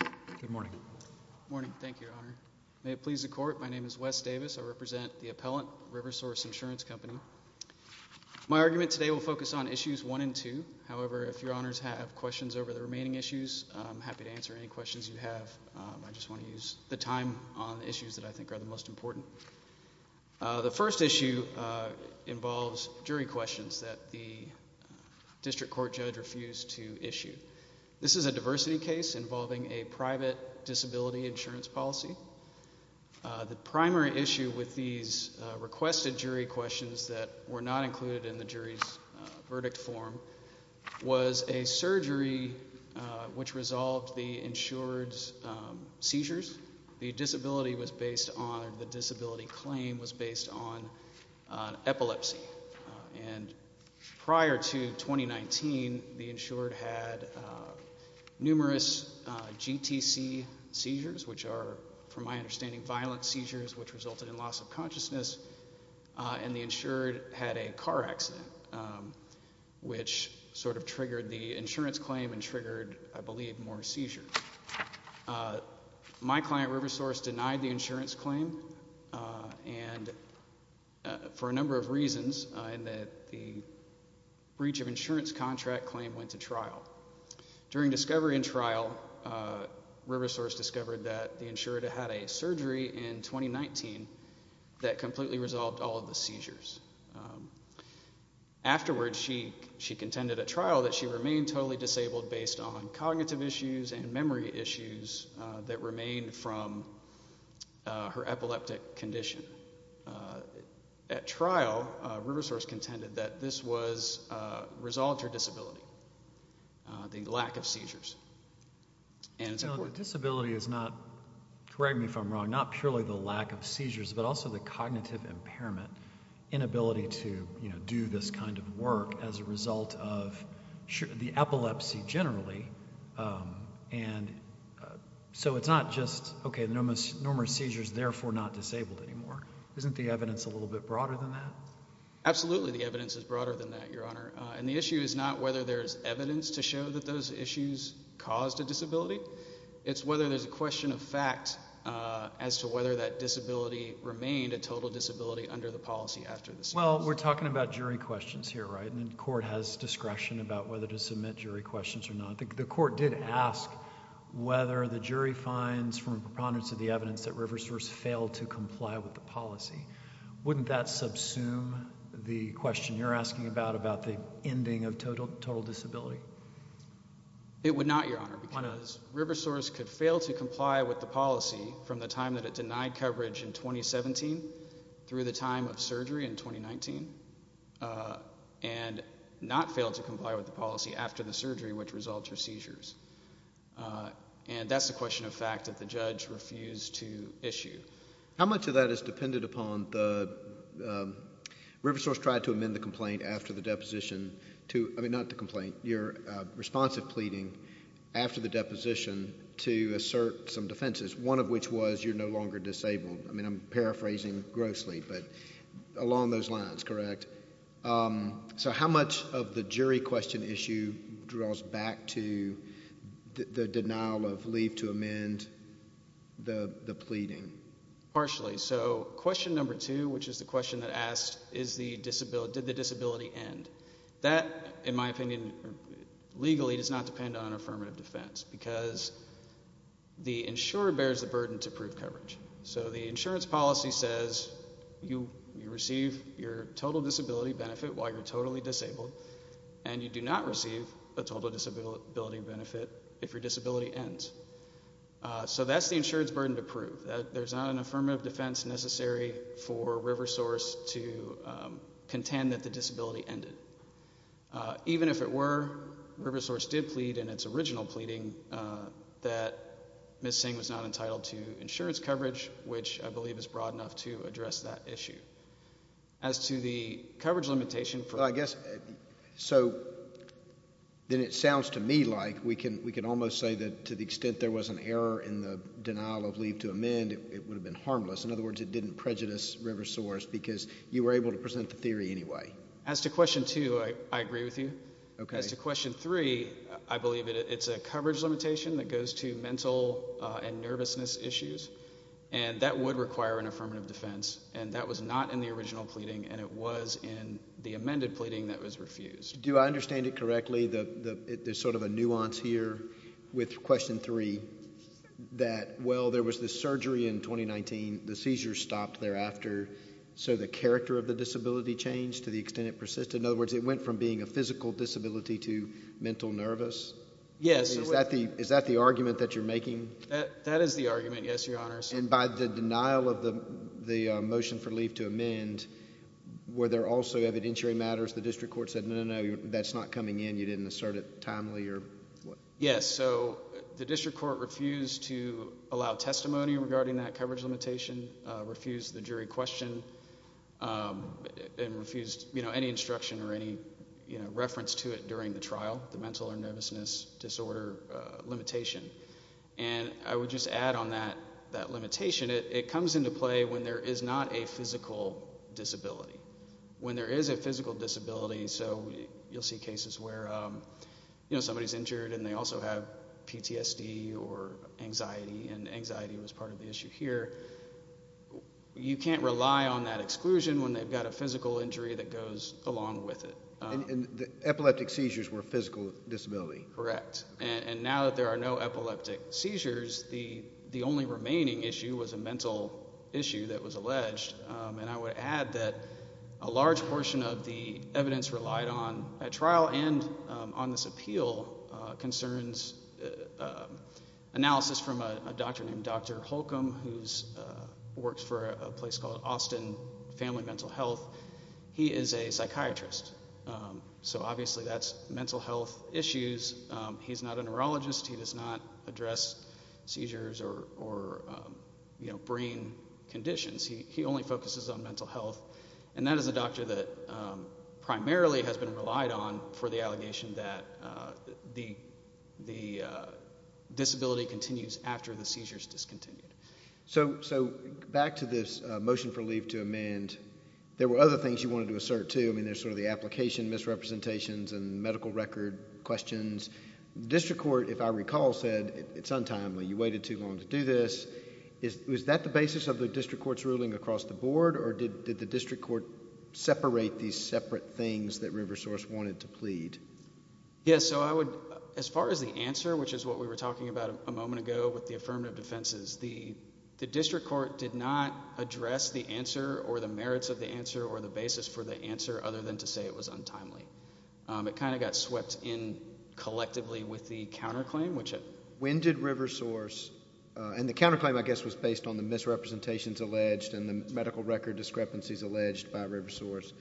Good morning, thank you, Your Honor. May it please the Court, my name is Wes Davis. I represent the appellant, Riversource Insurance Company. My argument today will focus on issues one and two. However, if Your Honors have questions over the remaining issues, I'm happy to answer any questions you have. I just want to use the time on the issues that I think are the most important. The first issue involves jury questions that the district court judge refused to issue. This is a diversity case involving a private disability insurance policy. The primary issue with these requested jury questions that were not included in the jury's verdict form was a surgery which resolved the insured's seizures. The disability was based on, or the insured had numerous GTC seizures, which are, from my understanding, violent seizures which resulted in loss of consciousness. And the insured had a car accident, which sort of triggered the insurance claim and triggered, I believe, more seizures. My client, Riversource, denied the insurance claim, and for a number of reasons, in that the breach of insurance contract claim went to trial. During discovery and trial, Riversource discovered that the insured had a surgery in 2019 that completely resolved all of the seizures. Afterwards, she contended at trial that she remained totally disabled based on cognitive issues and memory issues that remained from her epileptic condition. At trial, Riversource contended that this was a result of her disability, the lack of seizures. Disability is not, correct me if I'm wrong, not purely the lack of seizures, but also the cognitive impairment, inability to do this kind of work as a result of the epilepsy generally, and so it's not just, okay, numerous seizures, therefore not disabled anymore. Isn't the evidence a little bit broader than that? Absolutely, the evidence is broader than that, Your Honor, and the issue is not whether there's evidence to show that those issues caused a disability. It's whether there's a question of fact as to whether that disability remained a total disability under the policy after the seizure. Well, we're talking about jury questions here, right, and the court has discretion about whether to submit jury questions or not. The court did ask whether the jury finds from preponderance of the evidence that Riversource failed to comply with the policy. Wouldn't that subsume the question you're asking about, about the ending of total disability? It would not, Your Honor, because Riversource could fail to comply with the policy from the time that it denied coverage in 2017 through the time of surgery in 2019, and not fail to comply with the policy after the surgery which resulted in seizures, and that's a question of fact that the judge refused to issue. How much of that is dependent upon the, um, Riversource tried to amend the complaint after the deposition to, I mean, not the complaint, your responsive pleading after the deposition to assert some defenses, one of which was you're no longer disabled. I mean, I'm paraphrasing grossly, but along those lines, correct? Um, so how much of the jury question issue draws back to the denial of leave to amend the pleading? Partially. So question number two, which is the question that asked is the disability, did the disability end? That, in my opinion, legally does not depend on affirmative defense because the insurer bears the burden to prove coverage. So the insurance policy says you receive your total disability benefit while you're totally disabled, and you do not receive a total disability benefit if your disability ends. So that's the insurance burden to prove. There's not an affirmative defense necessary for Riversource to contend that the disability ended. Even if it were, Riversource did plead in its original pleading that Ms. Singh was not entitled to insurance coverage, which I believe is broad enough to address that issue. As to the coverage limitation for... I guess, so then it sounds to me like we can, we can almost say that to the extent there was an error in the denial of leave to amend, it would have been harmless. In other words, it didn't prejudice Riversource because you were able to present the theory anyway. As to question two, I agree with you. As to question three, I believe it's a coverage limitation that goes to mental and nervousness issues, and that would require an affirmative defense, and that was not in the original pleading, and it was in the amended pleading that was refused. Do I understand it correctly, there's sort of a nuance here with question three, that well, there was this surgery in 2019, the seizures stopped thereafter, so the character of the disability changed to the extent it persisted? In other words, it went from being a physical disability to mental nervous? Yes. Is that the argument that you're making? That is the argument, yes, Your Honors. And by the denial of the motion for leave to amend, were there also evidentiary matters the district court said, no, no, no, that's not coming in, you didn't assert it timely, or what? Yes, so the district court refused to allow testimony regarding that coverage limitation, refused the jury question, and refused, you know, any instruction or any, you know, reference to it during the trial, the mental or nervousness disorder limitation, and I would just add on that, that limitation, it comes into play when there is not a physical disability. When there is a physical disability, so you'll see cases where, you know, somebody's injured and they also have PTSD or anxiety, and anxiety was part of the issue here, you can't rely on that exclusion when they've got a physical injury that goes along with it. And the epileptic seizures were a physical disability. Correct. And now that there are no epileptic seizures, the only remaining issue was a mental issue that was alleged, and I would add that a large portion of the evidence relied on at trial and on this appeal concerns analysis from a doctor named Dr. Holcomb who works for a place called Austin Family Mental Health. He is a psychiatrist, so obviously that's mental health issues. He's not a neurologist. He does not address seizures or, you know, brain conditions. He only focuses on mental health, and that is a doctor that primarily has been relied on for the allegation that the disability continues after the seizure is discontinued. So back to this motion for leave to amend, there were other things you wanted to assert too. I mean, there's sort of the application misrepresentations and medical record questions. The district court, if I recall, said it's untimely, you waited too long to do this. Was that the basis of the district court's ruling across the board, or did the district court separate these separate things that River Source wanted to plead? Yeah, so I would, as far as the answer, which is what we were talking about a moment ago with the affirmative defenses, the district court did not address the answer or the merits of the answer or the basis for the answer, other than to say it was untimely. It kind of got swept in collectively with the counterclaim, which... When did River Source, and the counterclaim, I guess, was based on the misrepresentations alleged and the medical record discrepancies alleged by River Source,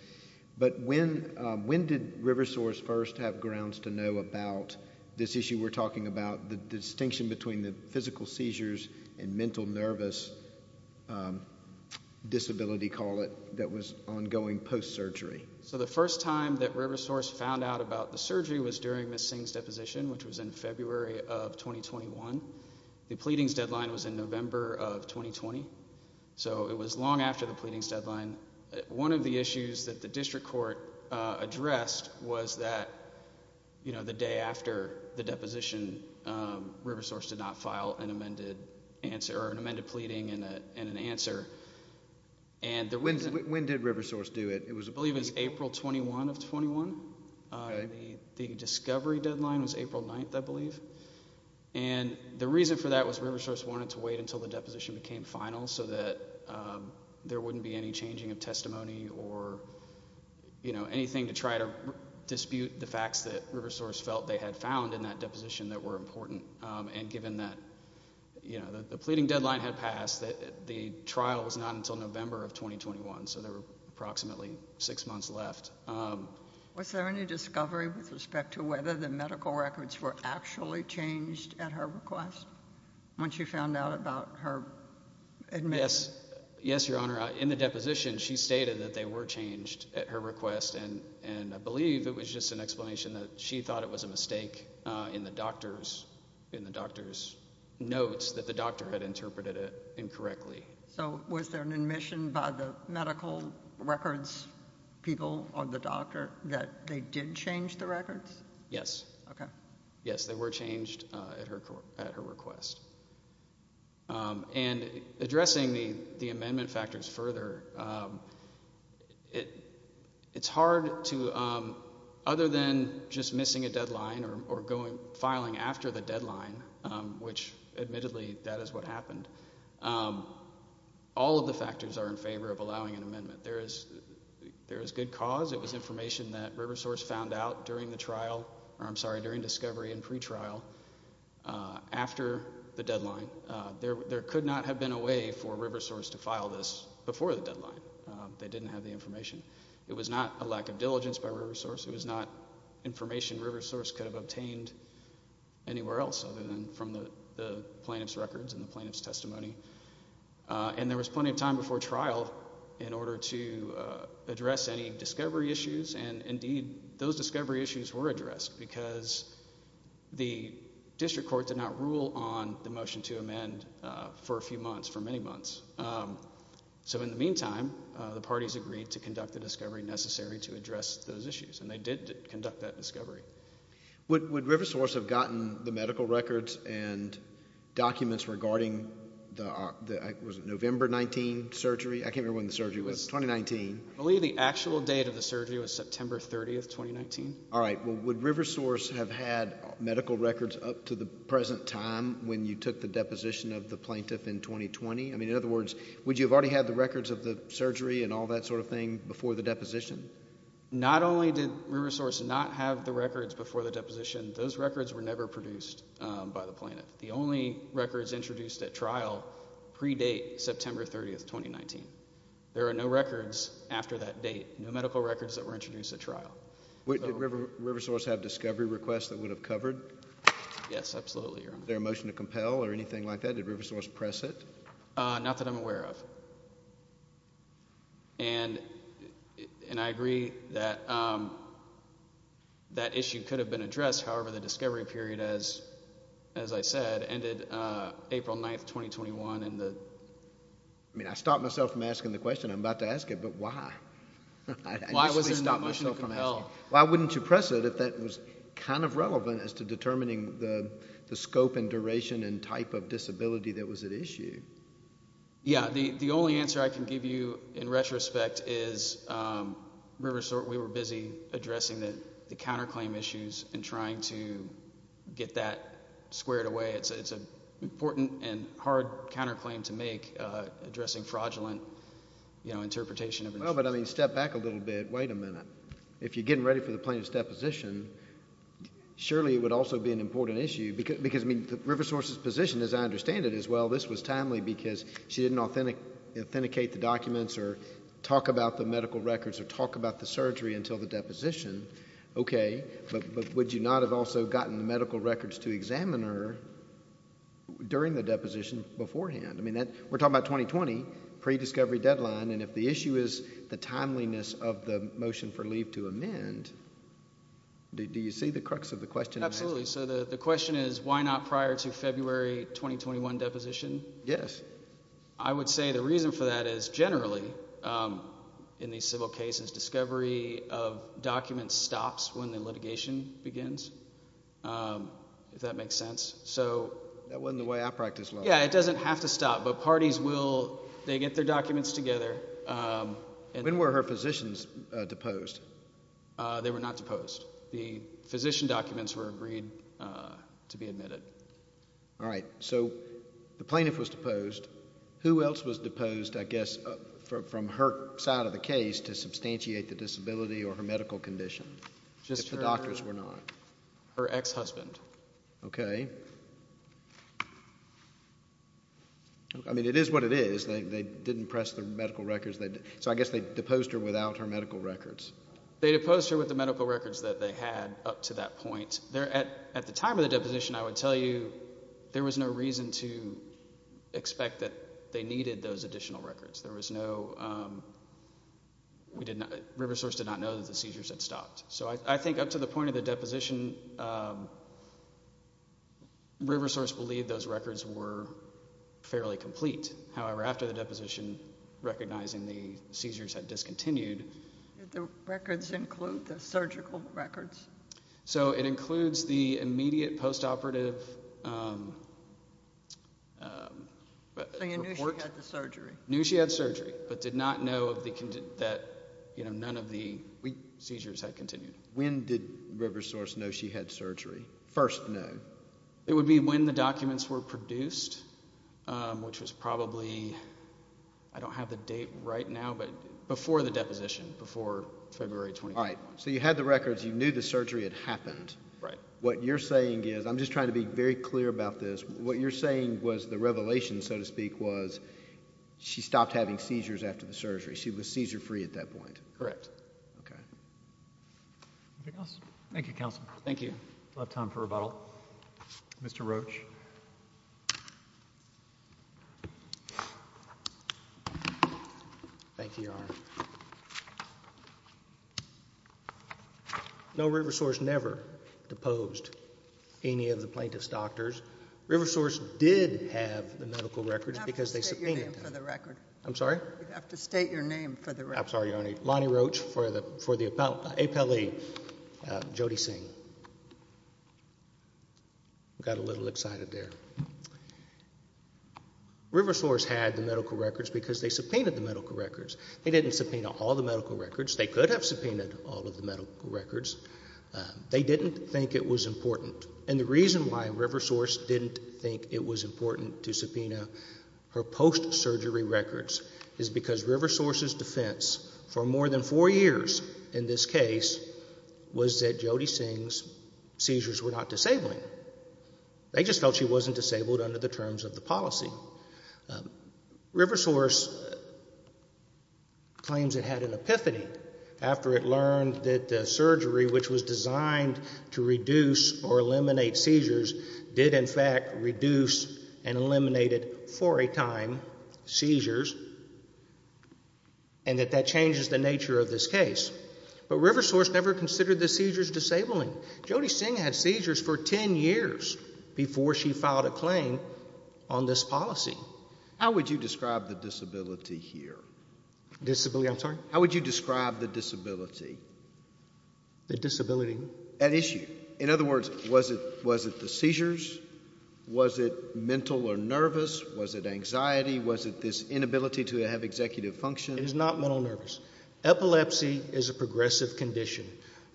but when did River Source first have grounds to know about this issue we're talking about, the distinction between the physical seizures and mental nervous disability, call it, that was ongoing post-surgery? So the first time that River Source found out about the surgery was during Ms. Singh's deposition, which was in February of 2021. The pleadings deadline was in November of 2020, so it was long after the pleadings deadline. One of the issues that the district court addressed was that, you know, the day after the deposition, River Source did not file an amended answer, or an amended pleading and an answer, and... When did River Source do it? It was... I believe it was April 21 of 21. The discovery deadline was April 9th, I believe, and the reason for that was River Source wanted to wait until the deposition became final so that there wouldn't be any changing of testimony or, you know, anything to try to dispute the facts that River Source felt they had found in that deposition that were important. And given that, you know, the pleading deadline had passed, the trial was not until November of 2021, so there were approximately six months left. Was there any discovery with respect to whether the medical records were actually changed at her request? When she found out about her admissions? Yes, Your Honor. In the deposition, she stated that they were changed at her request, and I believe it was just an explanation that she thought it was a mistake in the doctor's notes that the doctor had interpreted it incorrectly. So was there an admission by the medical records people or the doctor that they did change the records? Yes. Okay. Yes, they were changed at her request. And addressing the amendment factors further, it's hard to, other than just missing a deadline or filing after the deadline, which admittedly that is what happened, all of the factors are in favor of allowing an amendment. There is good cause. It was information that River Source found out during the trial, or I'm sorry, during the discovery and pretrial, after the deadline. There could not have been a way for River Source to file this before the deadline. They didn't have the information. It was not a lack of diligence by River Source. It was not information River Source could have obtained anywhere else other than from the plaintiff's records and the plaintiff's testimony. And there was plenty of time before trial in order to address any discovery issues, and indeed, those discovery issues were addressed because the district court did not rule on the motion to amend for a few months, for many months. So in the meantime, the parties agreed to conduct the discovery necessary to address those issues, and they did conduct that discovery. Would River Source have gotten the medical records and documents regarding the November 19 surgery? I can't remember when the surgery was. It was 2019. I believe the actual date of the surgery was September 30, 2019. All right. Well, would River Source have had medical records up to the present time when you took the deposition of the plaintiff in 2020? I mean, in other words, would you have already had the records of the surgery and all that sort of thing before the deposition? Not only did River Source not have the records before the deposition, those records were never produced by the plaintiff. The only records introduced at trial predate September 30, 2019. There are no records after that date, no medical records that were introduced at trial. Would River Source have discovery requests that would have covered? Yes, absolutely, Your Honor. Was there a motion to compel or anything like that? Did River Source press it? Not that I'm aware of. And I agree that that issue could have been addressed. However, the discovery period, as I said, ended April 9, 2021. I mean, I stopped myself from asking the question I'm about to ask it, but why? Why wasn't there a motion to compel? Why wouldn't you press it if that was kind of relevant as to determining the scope and duration and type of disability that was at issue? Yeah, the only answer I can give you in retrospect is River Source, we were busy addressing the counterclaim issues and trying to get that squared away. It's an important and hard counterclaim to make, addressing fraudulent interpretation of insurance. Well, but I mean, step back a little bit, wait a minute. If you're getting ready for the plaintiff's deposition, surely it would also be an important issue because, I mean, River Source's position, as I understand it, is, well, this was timely because she didn't authenticate the documents or talk about the medical records or talk about the surgery until the deposition, okay, but would you not have also gotten the medical records to examiner during the deposition beforehand? I mean, we're talking about 2020, prediscovery deadline, and if the issue is the timeliness of the motion for leave to amend, do you see the crux of the question? Absolutely. So the question is, why not prior to February 2021 deposition? Yes. I would say the reason for that is generally, in these civil cases, discovery of documents stops when the litigation begins, if that makes sense. So... That wasn't the way I practice law. Yeah, it doesn't have to stop, but parties will, they get their documents together. When were her physicians deposed? They were not deposed. The physician documents were agreed to be admitted. All right. So the plaintiff was deposed. Who else was deposed, I guess, from her side of the case to substantiate the disability or her medical condition, if the doctors were not? Her ex-husband. Okay. I mean, it is what it is. They didn't press the medical records. So I guess they deposed her without her medical records. They deposed her with the medical records that they had up to that point. At the time of the deposition, I would tell you there was no reason to expect that they needed those additional records. There was no... River Source did not know that the seizures had stopped. So I think up to the point of the deposition, River Source believed those records were fairly complete. However, after the deposition, recognizing the seizures had discontinued... Did the records include the surgical records? So it includes the immediate post-operative report. So you knew she had the surgery? Knew she had surgery, but did not know that none of the seizures had continued. When did River Source know she had surgery? First known? It would be when the documents were produced, which was probably... I don't have the date right now, but before the deposition, before February 21. All right. So you had the records. You knew the surgery had happened. Right. What you're saying is... I'm just trying to be very clear about this. What you're saying was the revelation, so to speak, was she stopped having seizures after the surgery. She was seizure-free at that point. Correct. Okay. Anything else? Thank you, Counselor. Thank you. A lot of time for rebuttal. Mr. Roach. Thank you, Your Honor. No, River Source never deposed any of the plaintiff's doctors. River Source did have the medical records because they subpoenaed them. You'd have to state your name for the record. I'm sorry? You'd have to state your name for the record. I'm sorry, Your Honor. Lonnie Roach for the APLE, Jodi Singh. Got a little excited there. River Source had the medical records because they subpoenaed the medical records. They didn't subpoena all the medical records. They could have subpoenaed all of the medical records. They didn't think it was important. And the reason why River Source didn't think it was important to subpoena her post-surgery records is because River Source's defense for more than four years in this case was that Jodi Singh's seizures were not disabling. They just felt she wasn't disabled under the terms of the policy. River Source claims it had an epiphany after it learned that the surgery, which was designed to reduce or eliminate seizures, did in fact reduce and eliminated, for a time, seizures, and that that changes the nature of this case. But River Source never considered the seizures disabling. Jodi Singh had seizures for 10 years before she filed a claim on this policy. How would you describe the disability here? Disability? I'm sorry? How would you describe the disability? The disability? At issue. In other words, was it the seizures? Was it mental or nervous? Was it anxiety? Was it this inability to have executive function? It is not mental or nervous. Epilepsy is a progressive condition,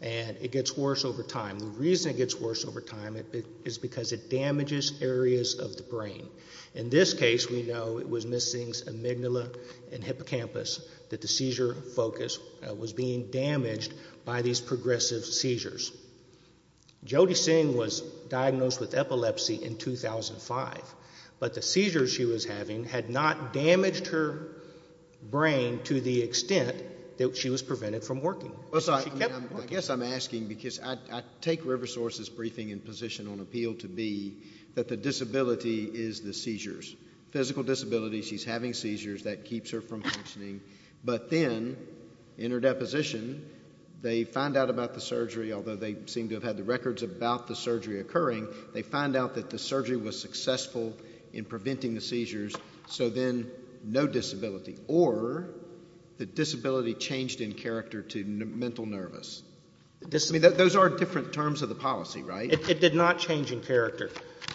and it gets worse over time. The reason it gets worse over time is because it damages areas of the brain. In this case, we know it was Ms. Singh's amygdala and hippocampus that the seizure focus was being damaged by these progressive seizures. Jodi Singh was diagnosed with epilepsy in 2005, but the seizures she was having had not damaged her brain to the extent that she was prevented from working. I guess I'm asking because I take River Source's briefing and position on appeal to be that the disability is the seizures. Physical disability, she's having seizures, that keeps her from functioning. But then, in her deposition, they find out about the surgery, although they seem to have had the records about the surgery occurring, they find out that the surgery was successful in preventing the seizures, so then no disability. Or the disability changed in character to mental nervous. Those are different terms of the policy, right? It did not change in character.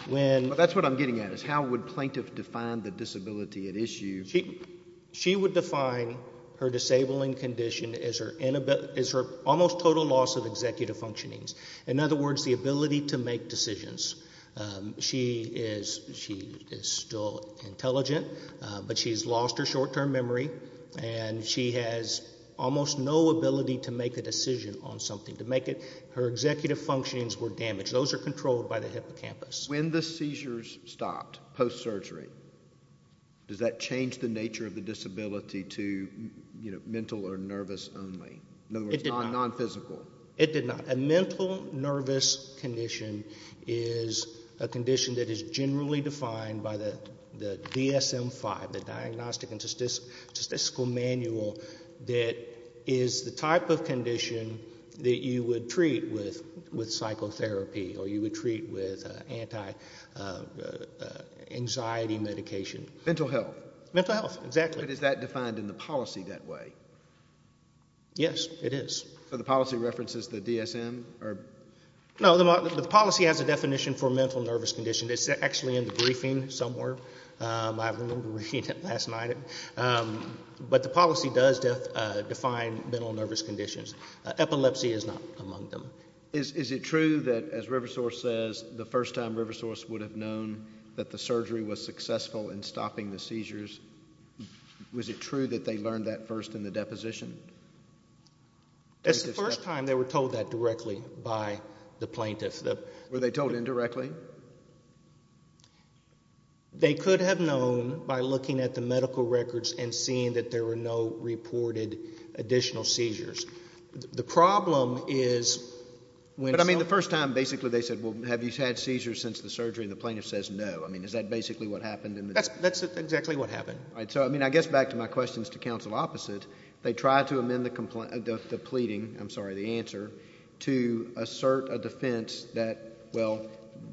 That's what I'm getting at. How would plaintiff define the disability at issue? She would define her disabling condition as her almost total loss of executive functionings. In other words, the ability to make decisions. She is still intelligent, but she's lost her short-term memory and she has almost no ability to make a decision on something. Her executive functionings were damaged. Those are controlled by the hippocampus. When the seizures stopped, post-surgery, does that change the nature of the disability to mental or nervous only? In other words, non-physical? It did not. A mental nervous condition is a condition that is generally defined by the DSM-5, the Diagnostic and Statistical Manual, that is the type of condition that you would treat with psychotherapy or you would treat with anti-anxiety medication. Mental health? Mental health, exactly. But is that defined in the policy that way? Yes, it is. So the policy references the DSM or? No, the policy has a definition for mental nervous condition. It's actually in the briefing somewhere. I remember reading it last night. But the policy does define mental nervous conditions. Epilepsy is not among them. Is it true that, as River Source says, the first time River Source would have known that the surgery was successful in stopping the seizures, was it true that they learned that first in the deposition? That's the first time they were told that directly by the plaintiff. Were they told indirectly? They could have known by looking at the medical records and seeing that there were no reported additional seizures. The problem is when some... But I mean the first time, basically they said, well, have you had seizures since the surgery? And the plaintiff says no. I mean, is that basically what happened in the... That's exactly what happened. All right. So I mean, I guess back to my questions to counsel opposite, they tried to amend the pleading, I'm sorry, the answer, to assert a defense that, well,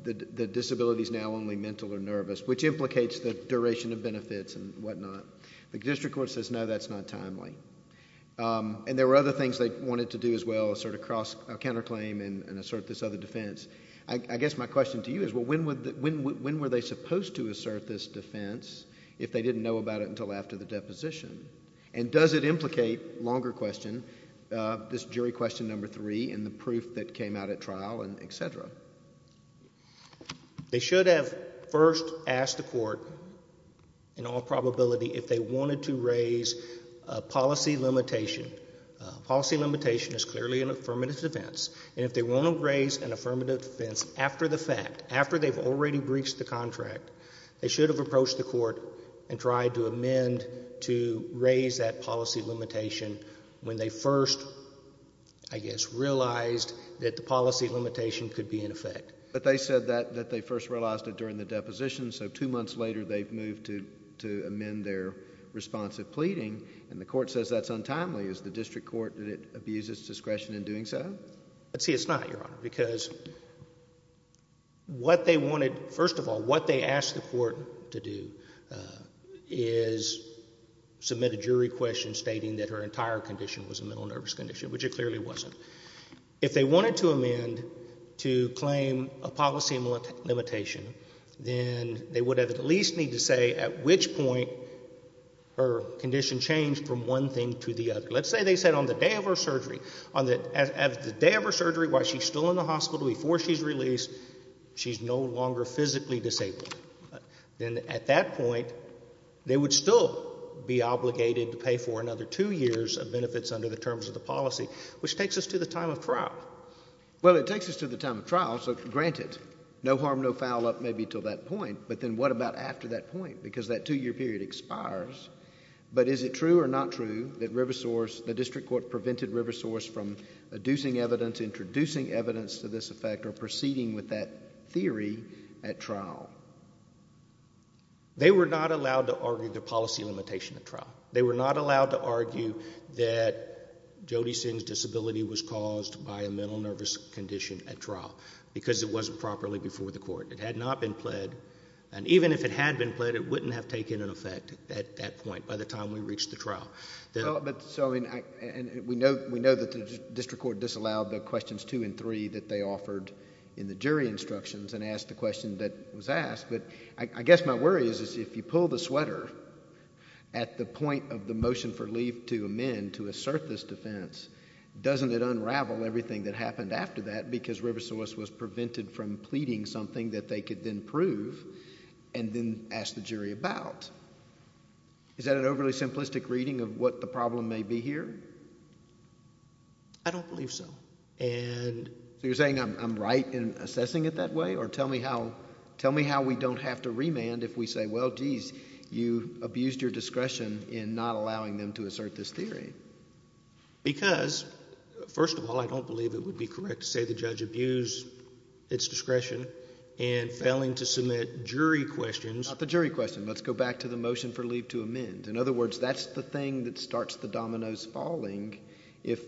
the disability is now only mental or nervous, which implicates the duration of benefits and whatnot. The district court says, no, that's not timely. And there were other things they wanted to do as well, assert a counterclaim and assert this other defense. I guess my question to you is, well, when were they supposed to assert this defense if they didn't know about it until after the deposition? And does it implicate, longer question, this jury question number three and the proof that came out at trial and et cetera? They should have first asked the court, in all probability, if they wanted to raise a policy limitation. A policy limitation is clearly an affirmative defense. And if they want to raise an affirmative defense after the fact, after they've already breached the contract, they should have approached the court and tried to amend to raise that policy limitation when they first, I guess, realized that the policy limitation could be in effect. But they said that they first realized it during the deposition, so two months later they've moved to amend their responsive pleading, and the court says that's untimely. Is the district court, did it abuse its discretion in doing so? Let's see, it's not, Your Honor, because what they wanted, first of all, what they asked the court to do is submit a jury question stating that her entire condition was a mental nervous condition, which it clearly wasn't. If they wanted to amend to claim a policy limitation, then they would have at least need to say at which point her condition changed from one thing to the other. Let's say they said on the day of her surgery, on the day of her surgery while she's still in the hospital before she's released, she's no longer physically disabled. Then at that point, they would still be obligated to pay for another two years of benefits under the terms of the policy, which takes us to the time of trial. Well, it takes us to the time of trial, so granted, no harm, no foul up maybe until that point, but then what about after that point? Because that two-year period expires. But is it true or not true that River Source, the district court prevented River Source from adducing evidence, introducing evidence to this effect, or proceeding with that theory at trial? They were not allowed to argue the policy limitation at trial. They were not allowed to argue that Jodi Singh's disability was caused by a mental nervous condition at trial because it wasn't properly before the court. It had not been pled, and even if it had been pled, it wouldn't have taken an effect at that point by the time we reached the trial. We know that the district court disallowed the questions two and three that they offered in the jury instructions and asked the question that was asked, but I guess my worry is if you pull the sweater at the point of the motion for leave to amend to assert this defense, doesn't it unravel everything that happened after that because River Source was prevented from pleading something that they could then prove and then ask the jury about? Is that an overly simplistic reading of what the problem may be here? I don't believe so. So you're saying I'm right in assessing it that way, or tell me how we don't have to say, well, geez, you abused your discretion in not allowing them to assert this theory. Because first of all, I don't believe it would be correct to say the judge abused its discretion and failing to submit jury questions. Not the jury question. Let's go back to the motion for leave to amend. In other words, that's the thing that starts the dominoes falling if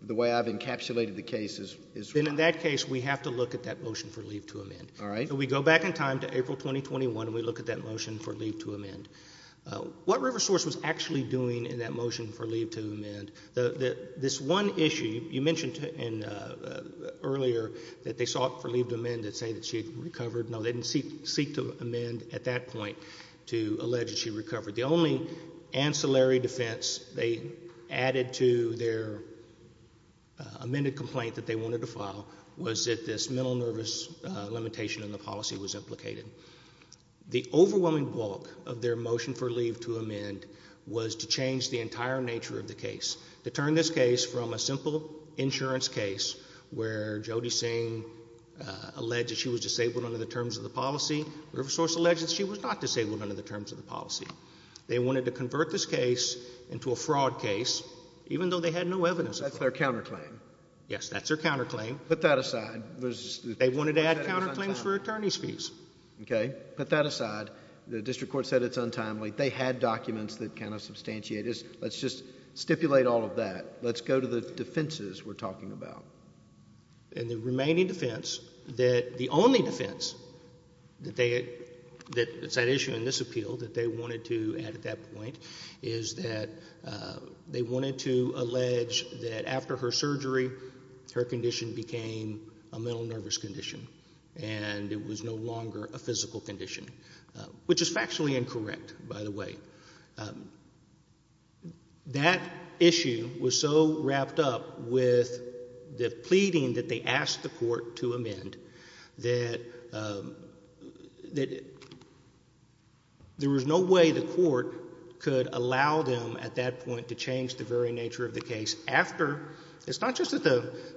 the way I've encapsulated the case is wrong. Then in that case, we have to look at that motion for leave to amend. All right. We go back in time to April 2021, and we look at that motion for leave to amend. What River Source was actually doing in that motion for leave to amend, this one issue you mentioned earlier that they sought for leave to amend to say that she had recovered. No, they didn't seek to amend at that point to allege that she recovered. The only ancillary defense they added to their amended complaint that they wanted to file was that this mental nervous limitation in the policy was implicated. The overwhelming bulk of their motion for leave to amend was to change the entire nature of the case. To turn this case from a simple insurance case where Jodi Singh alleged that she was disabled under the terms of the policy, River Source alleged that she was not disabled under the terms of the policy. They wanted to convert this case into a fraud case, even though they had no evidence of fraud. That's their counterclaim. Yes, that's their counterclaim. Put that aside. They wanted to add counterclaims for attorney's fees. Okay. Put that aside. The district court said it's untimely. They had documents that kind of substantiate this. Let's just stipulate all of that. Let's go to the defenses we're talking about. And the remaining defense, the only defense that's at issue in this appeal that they wanted to add at that point is that they wanted to allege that after her surgery, her condition became a mental nervous condition and it was no longer a physical condition, which is factually incorrect by the way. That issue was so wrapped up with the pleading that they asked the court to amend that there was no way the court could allow them at that point to change the very nature of the case after. It's not just that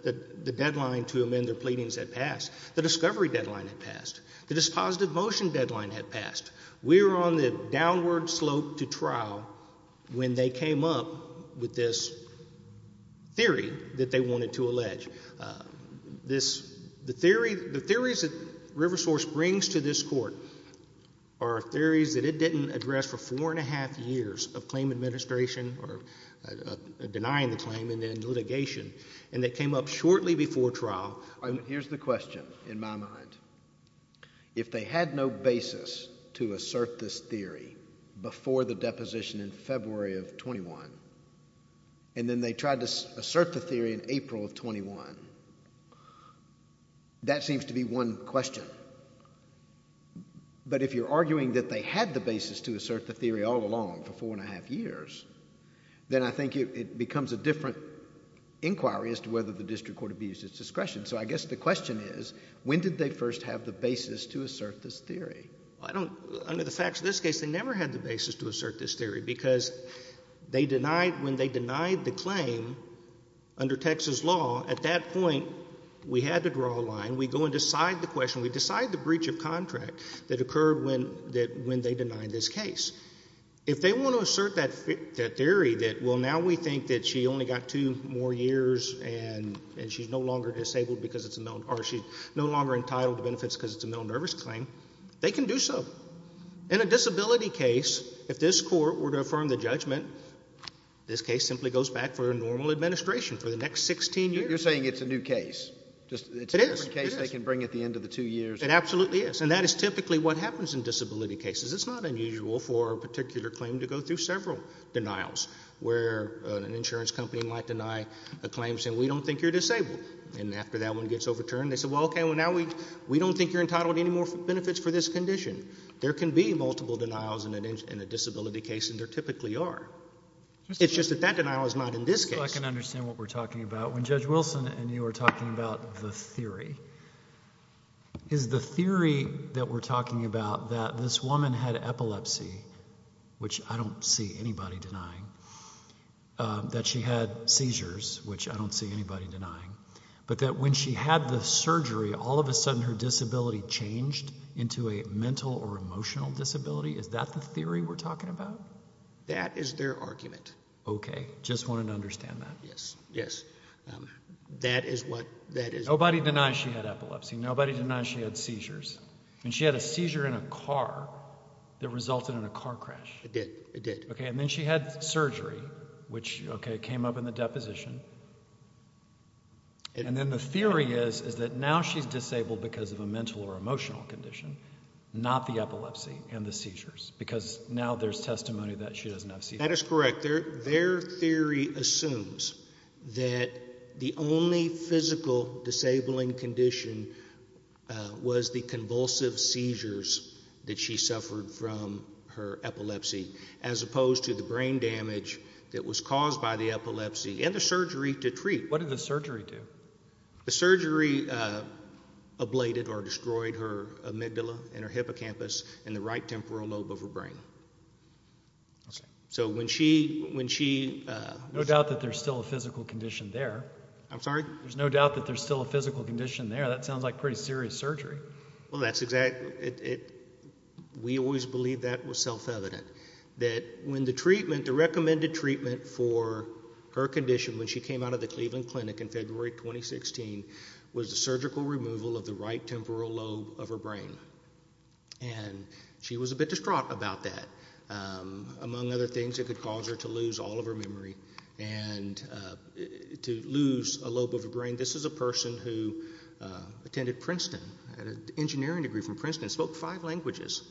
the deadline to amend their pleadings had passed. The discovery deadline had passed. The dispositive motion deadline had passed. We were on the downward slope to trial when they came up with this theory that they wanted to allege. The theories that River Source brings to this court are theories that it didn't address for four and a half years of claim administration or denying the claim and then litigation. And they came up shortly before trial. Here's the question in my mind. If they had no basis to assert this theory before the deposition in February of 21 and then they tried to assert the theory in April of 21, that seems to be one question. But if you're arguing that they had the basis to assert the theory all along for four and a half years, then I think it becomes a different inquiry as to whether the district court abused its discretion. So I guess the question is, when did they first have the basis to assert this theory? Well, I don't, under the facts of this case, they never had the basis to assert this theory because they denied, when they denied the claim under Texas law, at that point we had to draw a line. We go and decide the question. We decide the breach of contract that occurred when they denied this case. If they want to assert that theory that, well, now we think that she only got two more years and she's no longer disabled because it's a, or she's no longer entitled to benefits because it's a malnervous claim, they can do so. In a disability case, if this court were to affirm the judgment, this case simply goes back for a normal administration for the next 16 years. You're saying it's a new case. It is. It's a different case they can bring at the end of the two years. It absolutely is. And that is typically what happens in disability cases. It's not unusual for a particular claim to go through several denials where an insurance company might deny a claim saying, we don't think you're disabled. And after that one gets overturned, they say, well, okay, well, now we don't think you're There can be multiple denials in a disability case, and there typically are. It's just that that denial is not in this case. So I can understand what we're talking about. When Judge Wilson and you were talking about the theory, is the theory that we're talking about that this woman had epilepsy, which I don't see anybody denying, that she had seizures, which I don't see anybody denying, but that when she had the surgery, all of a sudden her disability changed into a mental or emotional disability? Is that the theory we're talking about? That is their argument. Okay. Just wanted to understand that. Yes. Yes. That is what that is. Nobody denies she had epilepsy. Nobody denies she had seizures. And she had a seizure in a car that resulted in a car crash. It did. It did. Okay. And then she had surgery, which, okay, came up in the deposition. And then the theory is, is that now she's disabled because of a mental or emotional condition, not the epilepsy and the seizures, because now there's testimony that she doesn't have seizures. That is correct. Their theory assumes that the only physical disabling condition was the convulsive seizures that she suffered from her epilepsy, as opposed to the brain damage that was caused by the surgery to treat. What did the surgery do? The surgery ablated or destroyed her amygdala and her hippocampus and the right temporal lobe of her brain. So when she, when she, no doubt that there's still a physical condition there. I'm sorry? There's no doubt that there's still a physical condition there. That sounds like pretty serious surgery. Well, that's exactly it. We always believe that was self-evident, that when the treatment, the recommended treatment for her condition when she came out of the Cleveland Clinic in February 2016 was the surgical removal of the right temporal lobe of her brain. And she was a bit distraught about that. Among other things, it could cause her to lose all of her memory and to lose a lobe of her brain. This is a person who attended Princeton, had an engineering degree from Princeton, spoke five languages,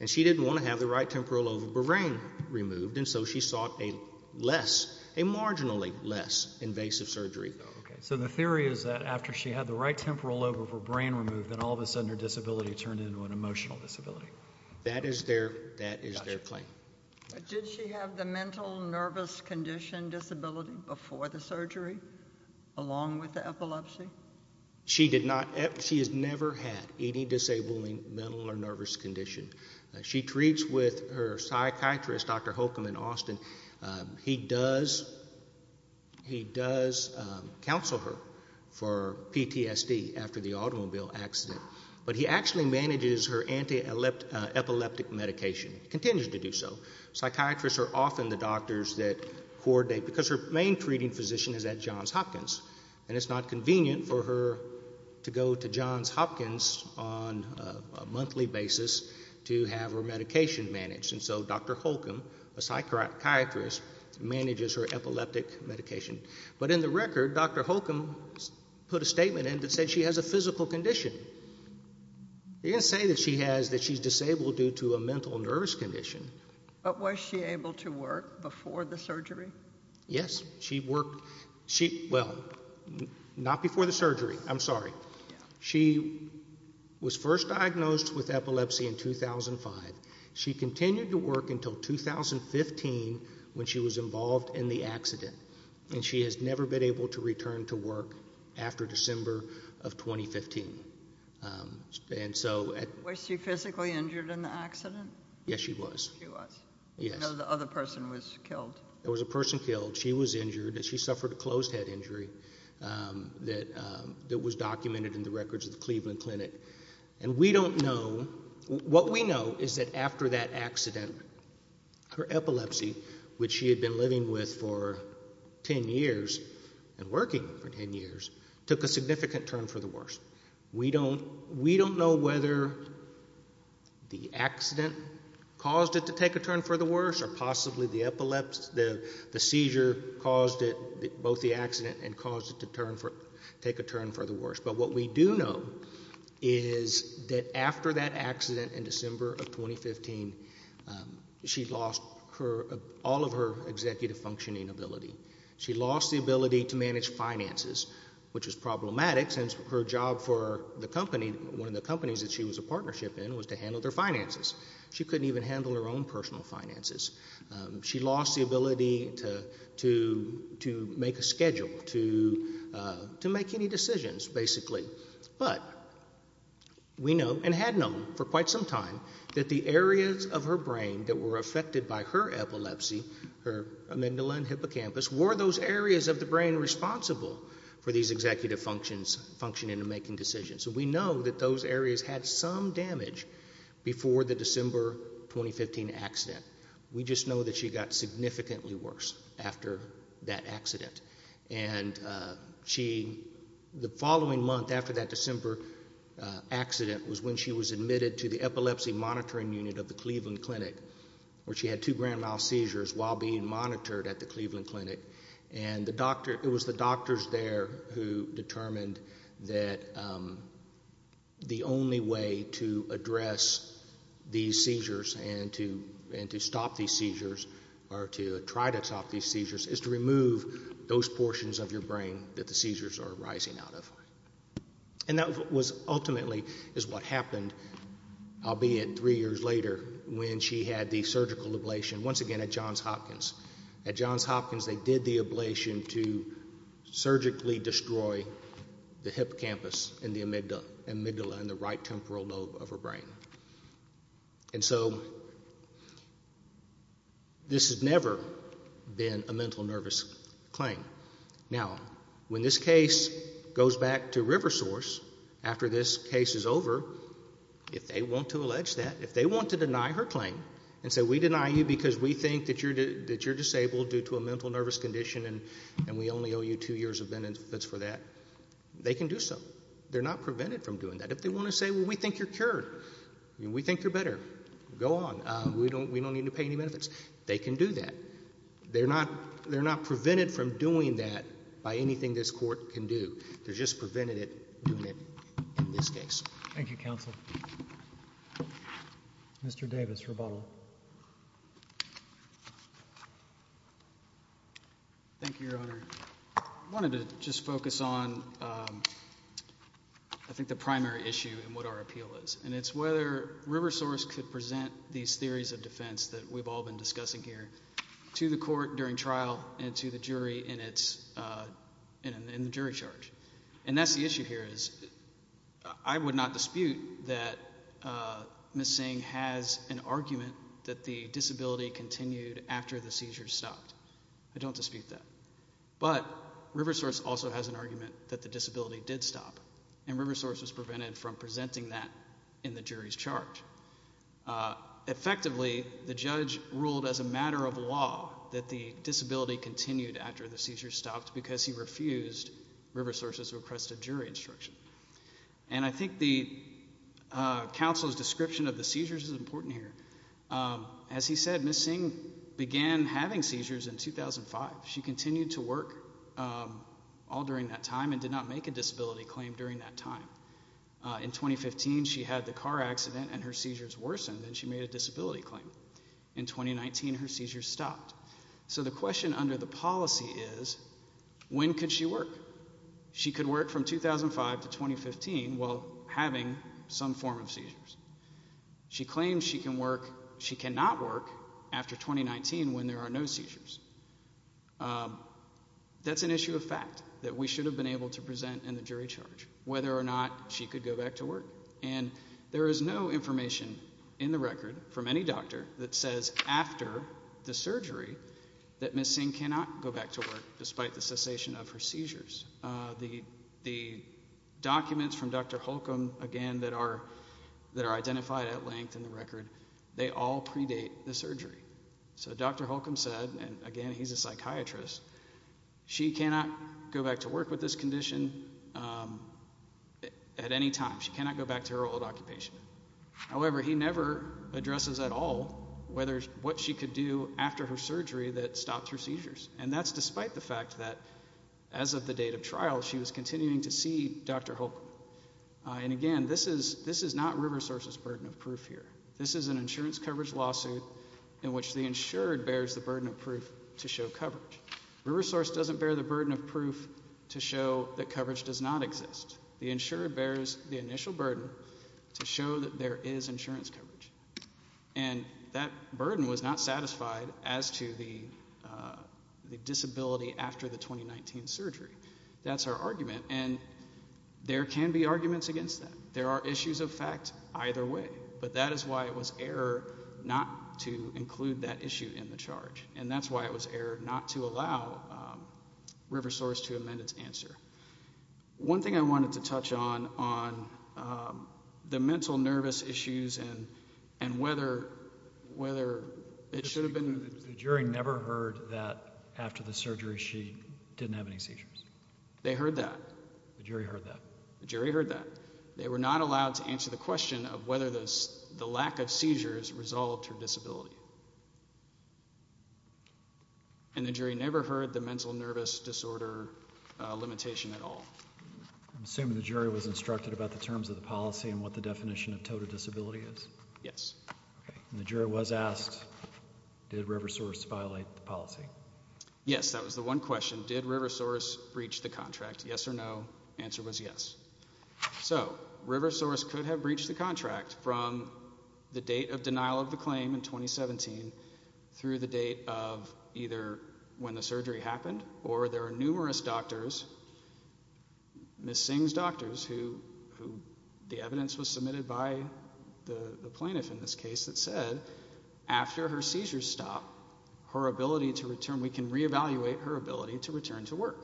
and she didn't want to have the right temporal lobe of her brain removed. And so she sought a less, a marginally less invasive surgery. So the theory is that after she had the right temporal lobe of her brain removed, that all of a sudden her disability turned into an emotional disability. That is their, that is their claim. Did she have the mental nervous condition disability before the surgery, along with the epilepsy? She did not. She has never had any disabling mental or nervous condition. She treats with her psychiatrist, Dr. Holcomb in Austin. He does, he does counsel her for PTSD after the automobile accident. But he actually manages her anti-epileptic medication, continues to do so. Psychiatrists are often the doctors that coordinate, because her main treating physician is at Johns Hopkins. And it's not convenient for her to go to Johns Hopkins on a monthly basis to have her medication managed. And so Dr. Holcomb, a psychiatrist, manages her epileptic medication. But in the record, Dr. Holcomb put a statement in that said she has a physical condition. He didn't say that she has, that she's disabled due to a mental nervous condition. But was she able to work before the surgery? Yes. She worked, she, well, not before the surgery, I'm sorry. She was first diagnosed with epilepsy in 2005. She continued to work until 2015, when she was involved in the accident. And she has never been able to return to work after December of 2015. And so... Was she physically injured in the accident? Yes, she was. She was. Yes. No, the other person was killed. There was a person killed. She was injured and she suffered a closed head injury that was documented in the records of the Cleveland Clinic. And we don't know... What we know is that after that accident, her epilepsy, which she had been living with for 10 years and working for 10 years, took a significant turn for the worse. We don't know whether the accident caused it to take a turn for the worse or possibly the epilepsy, the seizure caused it, both the accident and caused it to take a turn for the worse. But what we do know is that after that accident in December of 2015, she lost all of her executive functioning ability. She lost the ability to manage finances, which was problematic since her job for the company, one of the companies that she was a partnership in, was to handle their finances. She couldn't even handle her own personal finances. She lost the ability to make a schedule, to make any decisions, basically. But we know, and had known for quite some time, that the areas of her brain that were affected by her epilepsy, her amygdala and hippocampus, were those areas of the brain responsible for these executive functioning and making decisions. So we know that those areas had some damage before the December 2015 accident. We just know that she got significantly worse after that accident. And the following month after that December accident was when she was admitted to the Epilepsy Monitoring Unit of the Cleveland Clinic, where she had two grand mal seizures while being monitored at the Cleveland Clinic. And it was the doctors there who determined that the only way to address these seizures and to stop these seizures, or to try to stop these seizures, is to remove those portions of your brain that the seizures are arising out of. And that was ultimately what happened, albeit three years later, when she had the surgical ablation, once again at Johns Hopkins. At Johns Hopkins, they did the ablation to surgically destroy the hippocampus and the amygdala in the right temporal lobe of her brain. And so this has never been a mental nervous claim. Now, when this case goes back to River Source after this case is over, if they want to allege that, if they want to deny her claim and say, we deny you because we think that you're disabled due to a mental nervous condition and we only owe you two years of benefits for that, they can do so. They're not prevented from doing that. If they want to say, well, we think you're cured, we think you're better, go on. We don't need to pay any benefits. They can do that. They're not prevented from doing that by anything this court can do. They're just preventing it, doing it in this case. Thank you, counsel. Mr. Davis, rebuttal. Thank you, Your Honor. I wanted to just focus on, I think, the primary issue in what our appeal is. And it's whether River Source could present these theories of defense that we've all been discussing here to the court during trial and to the jury in the jury charge. And that's the issue here is, I would not dispute that Ms. Singh has an argument that the disability continued after the seizures stopped. I don't dispute that. But River Source also has an argument that the disability did stop. And River Source was prevented from presenting that in the jury's charge. Effectively, the judge ruled as a matter of law that the disability continued after the River Source has requested jury instruction. And I think the counsel's description of the seizures is important here. As he said, Ms. Singh began having seizures in 2005. She continued to work all during that time and did not make a disability claim during that time. In 2015, she had the car accident and her seizures worsened and she made a disability claim. In 2019, her seizures stopped. So the question under the policy is, when could she work? She could work from 2005 to 2015 while having some form of seizures. She claims she cannot work after 2019 when there are no seizures. That's an issue of fact that we should have been able to present in the jury charge, whether or not she could go back to work. And there is no information in the record from any doctor that says after the surgery that Ms. Singh cannot go back to work despite the cessation of her seizures. The documents from Dr. Holcomb, again, that are identified at length in the record, they all predate the surgery. So Dr. Holcomb said, and again, he's a psychiatrist, she cannot go back to work with this condition at any time. She cannot go back to her old occupation. However, he never addresses at all what she could do after her surgery that stopped her seizures. And that's despite the fact that as of the date of trial, she was continuing to see Dr. Holcomb. And again, this is not River Source's burden of proof here. This is an insurance coverage lawsuit in which the insured bears the burden of proof to show coverage. River Source doesn't bear the burden of proof to show that coverage does not exist. The insurer bears the initial burden to show that there is insurance coverage. And that burden was not satisfied as to the disability after the 2019 surgery. That's our argument. And there can be arguments against that. There are issues of fact either way. But that is why it was error not to include that issue in the charge. And that's why it was error not to allow River Source to amend its answer. One thing I wanted to touch on, on the mental nervous issues and whether it should have been... The jury never heard that after the surgery she didn't have any seizures. They heard that. The jury heard that. The jury heard that. They were not allowed to answer the question of whether the lack of seizures resolved her disability. And the jury never heard the mental nervous disorder limitation at all. I'm assuming the jury was instructed about the terms of the policy and what the definition of total disability is? Yes. Okay. And the jury was asked, did River Source violate the policy? Yes, that was the one question. Did River Source breach the contract? Yes or no. Answer was yes. So, River Source could have breached the contract from the date of denial of the claim in 2017 through the date of either when the surgery happened. Or there are numerous doctors, Ms. Singh's doctors, who the evidence was submitted by the plaintiff in this case that said after her seizures stop, her ability to return, we can reevaluate her ability to return to work.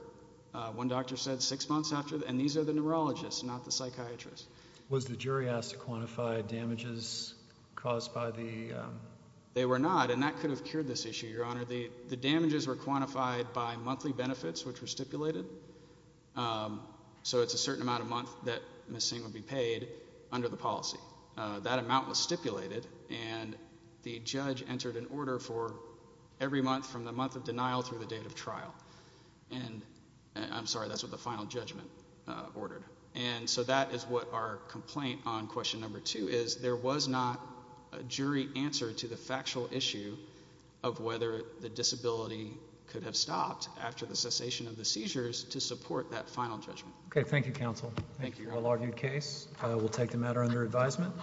One doctor said six months after. And these are the neurologists, not the psychiatrists. Was the jury asked to quantify damages caused by the... They were not. And that could have cured this issue, Your Honor. The damages were quantified by monthly benefits, which were stipulated. So it's a certain amount a month that Ms. Singh would be paid under the policy. That amount was stipulated and the judge entered an order for every month from the month of denial through the date of trial. And I'm sorry, that's what the final judgment ordered. And so that is what our complaint on question number two is. There was not a jury answer to the factual issue of whether the disability could have stopped after the cessation of the seizures to support that final judgment. Okay. Thank you, counsel. Thank you, Your Honor. A well-argued case. We'll take the matter under advisement.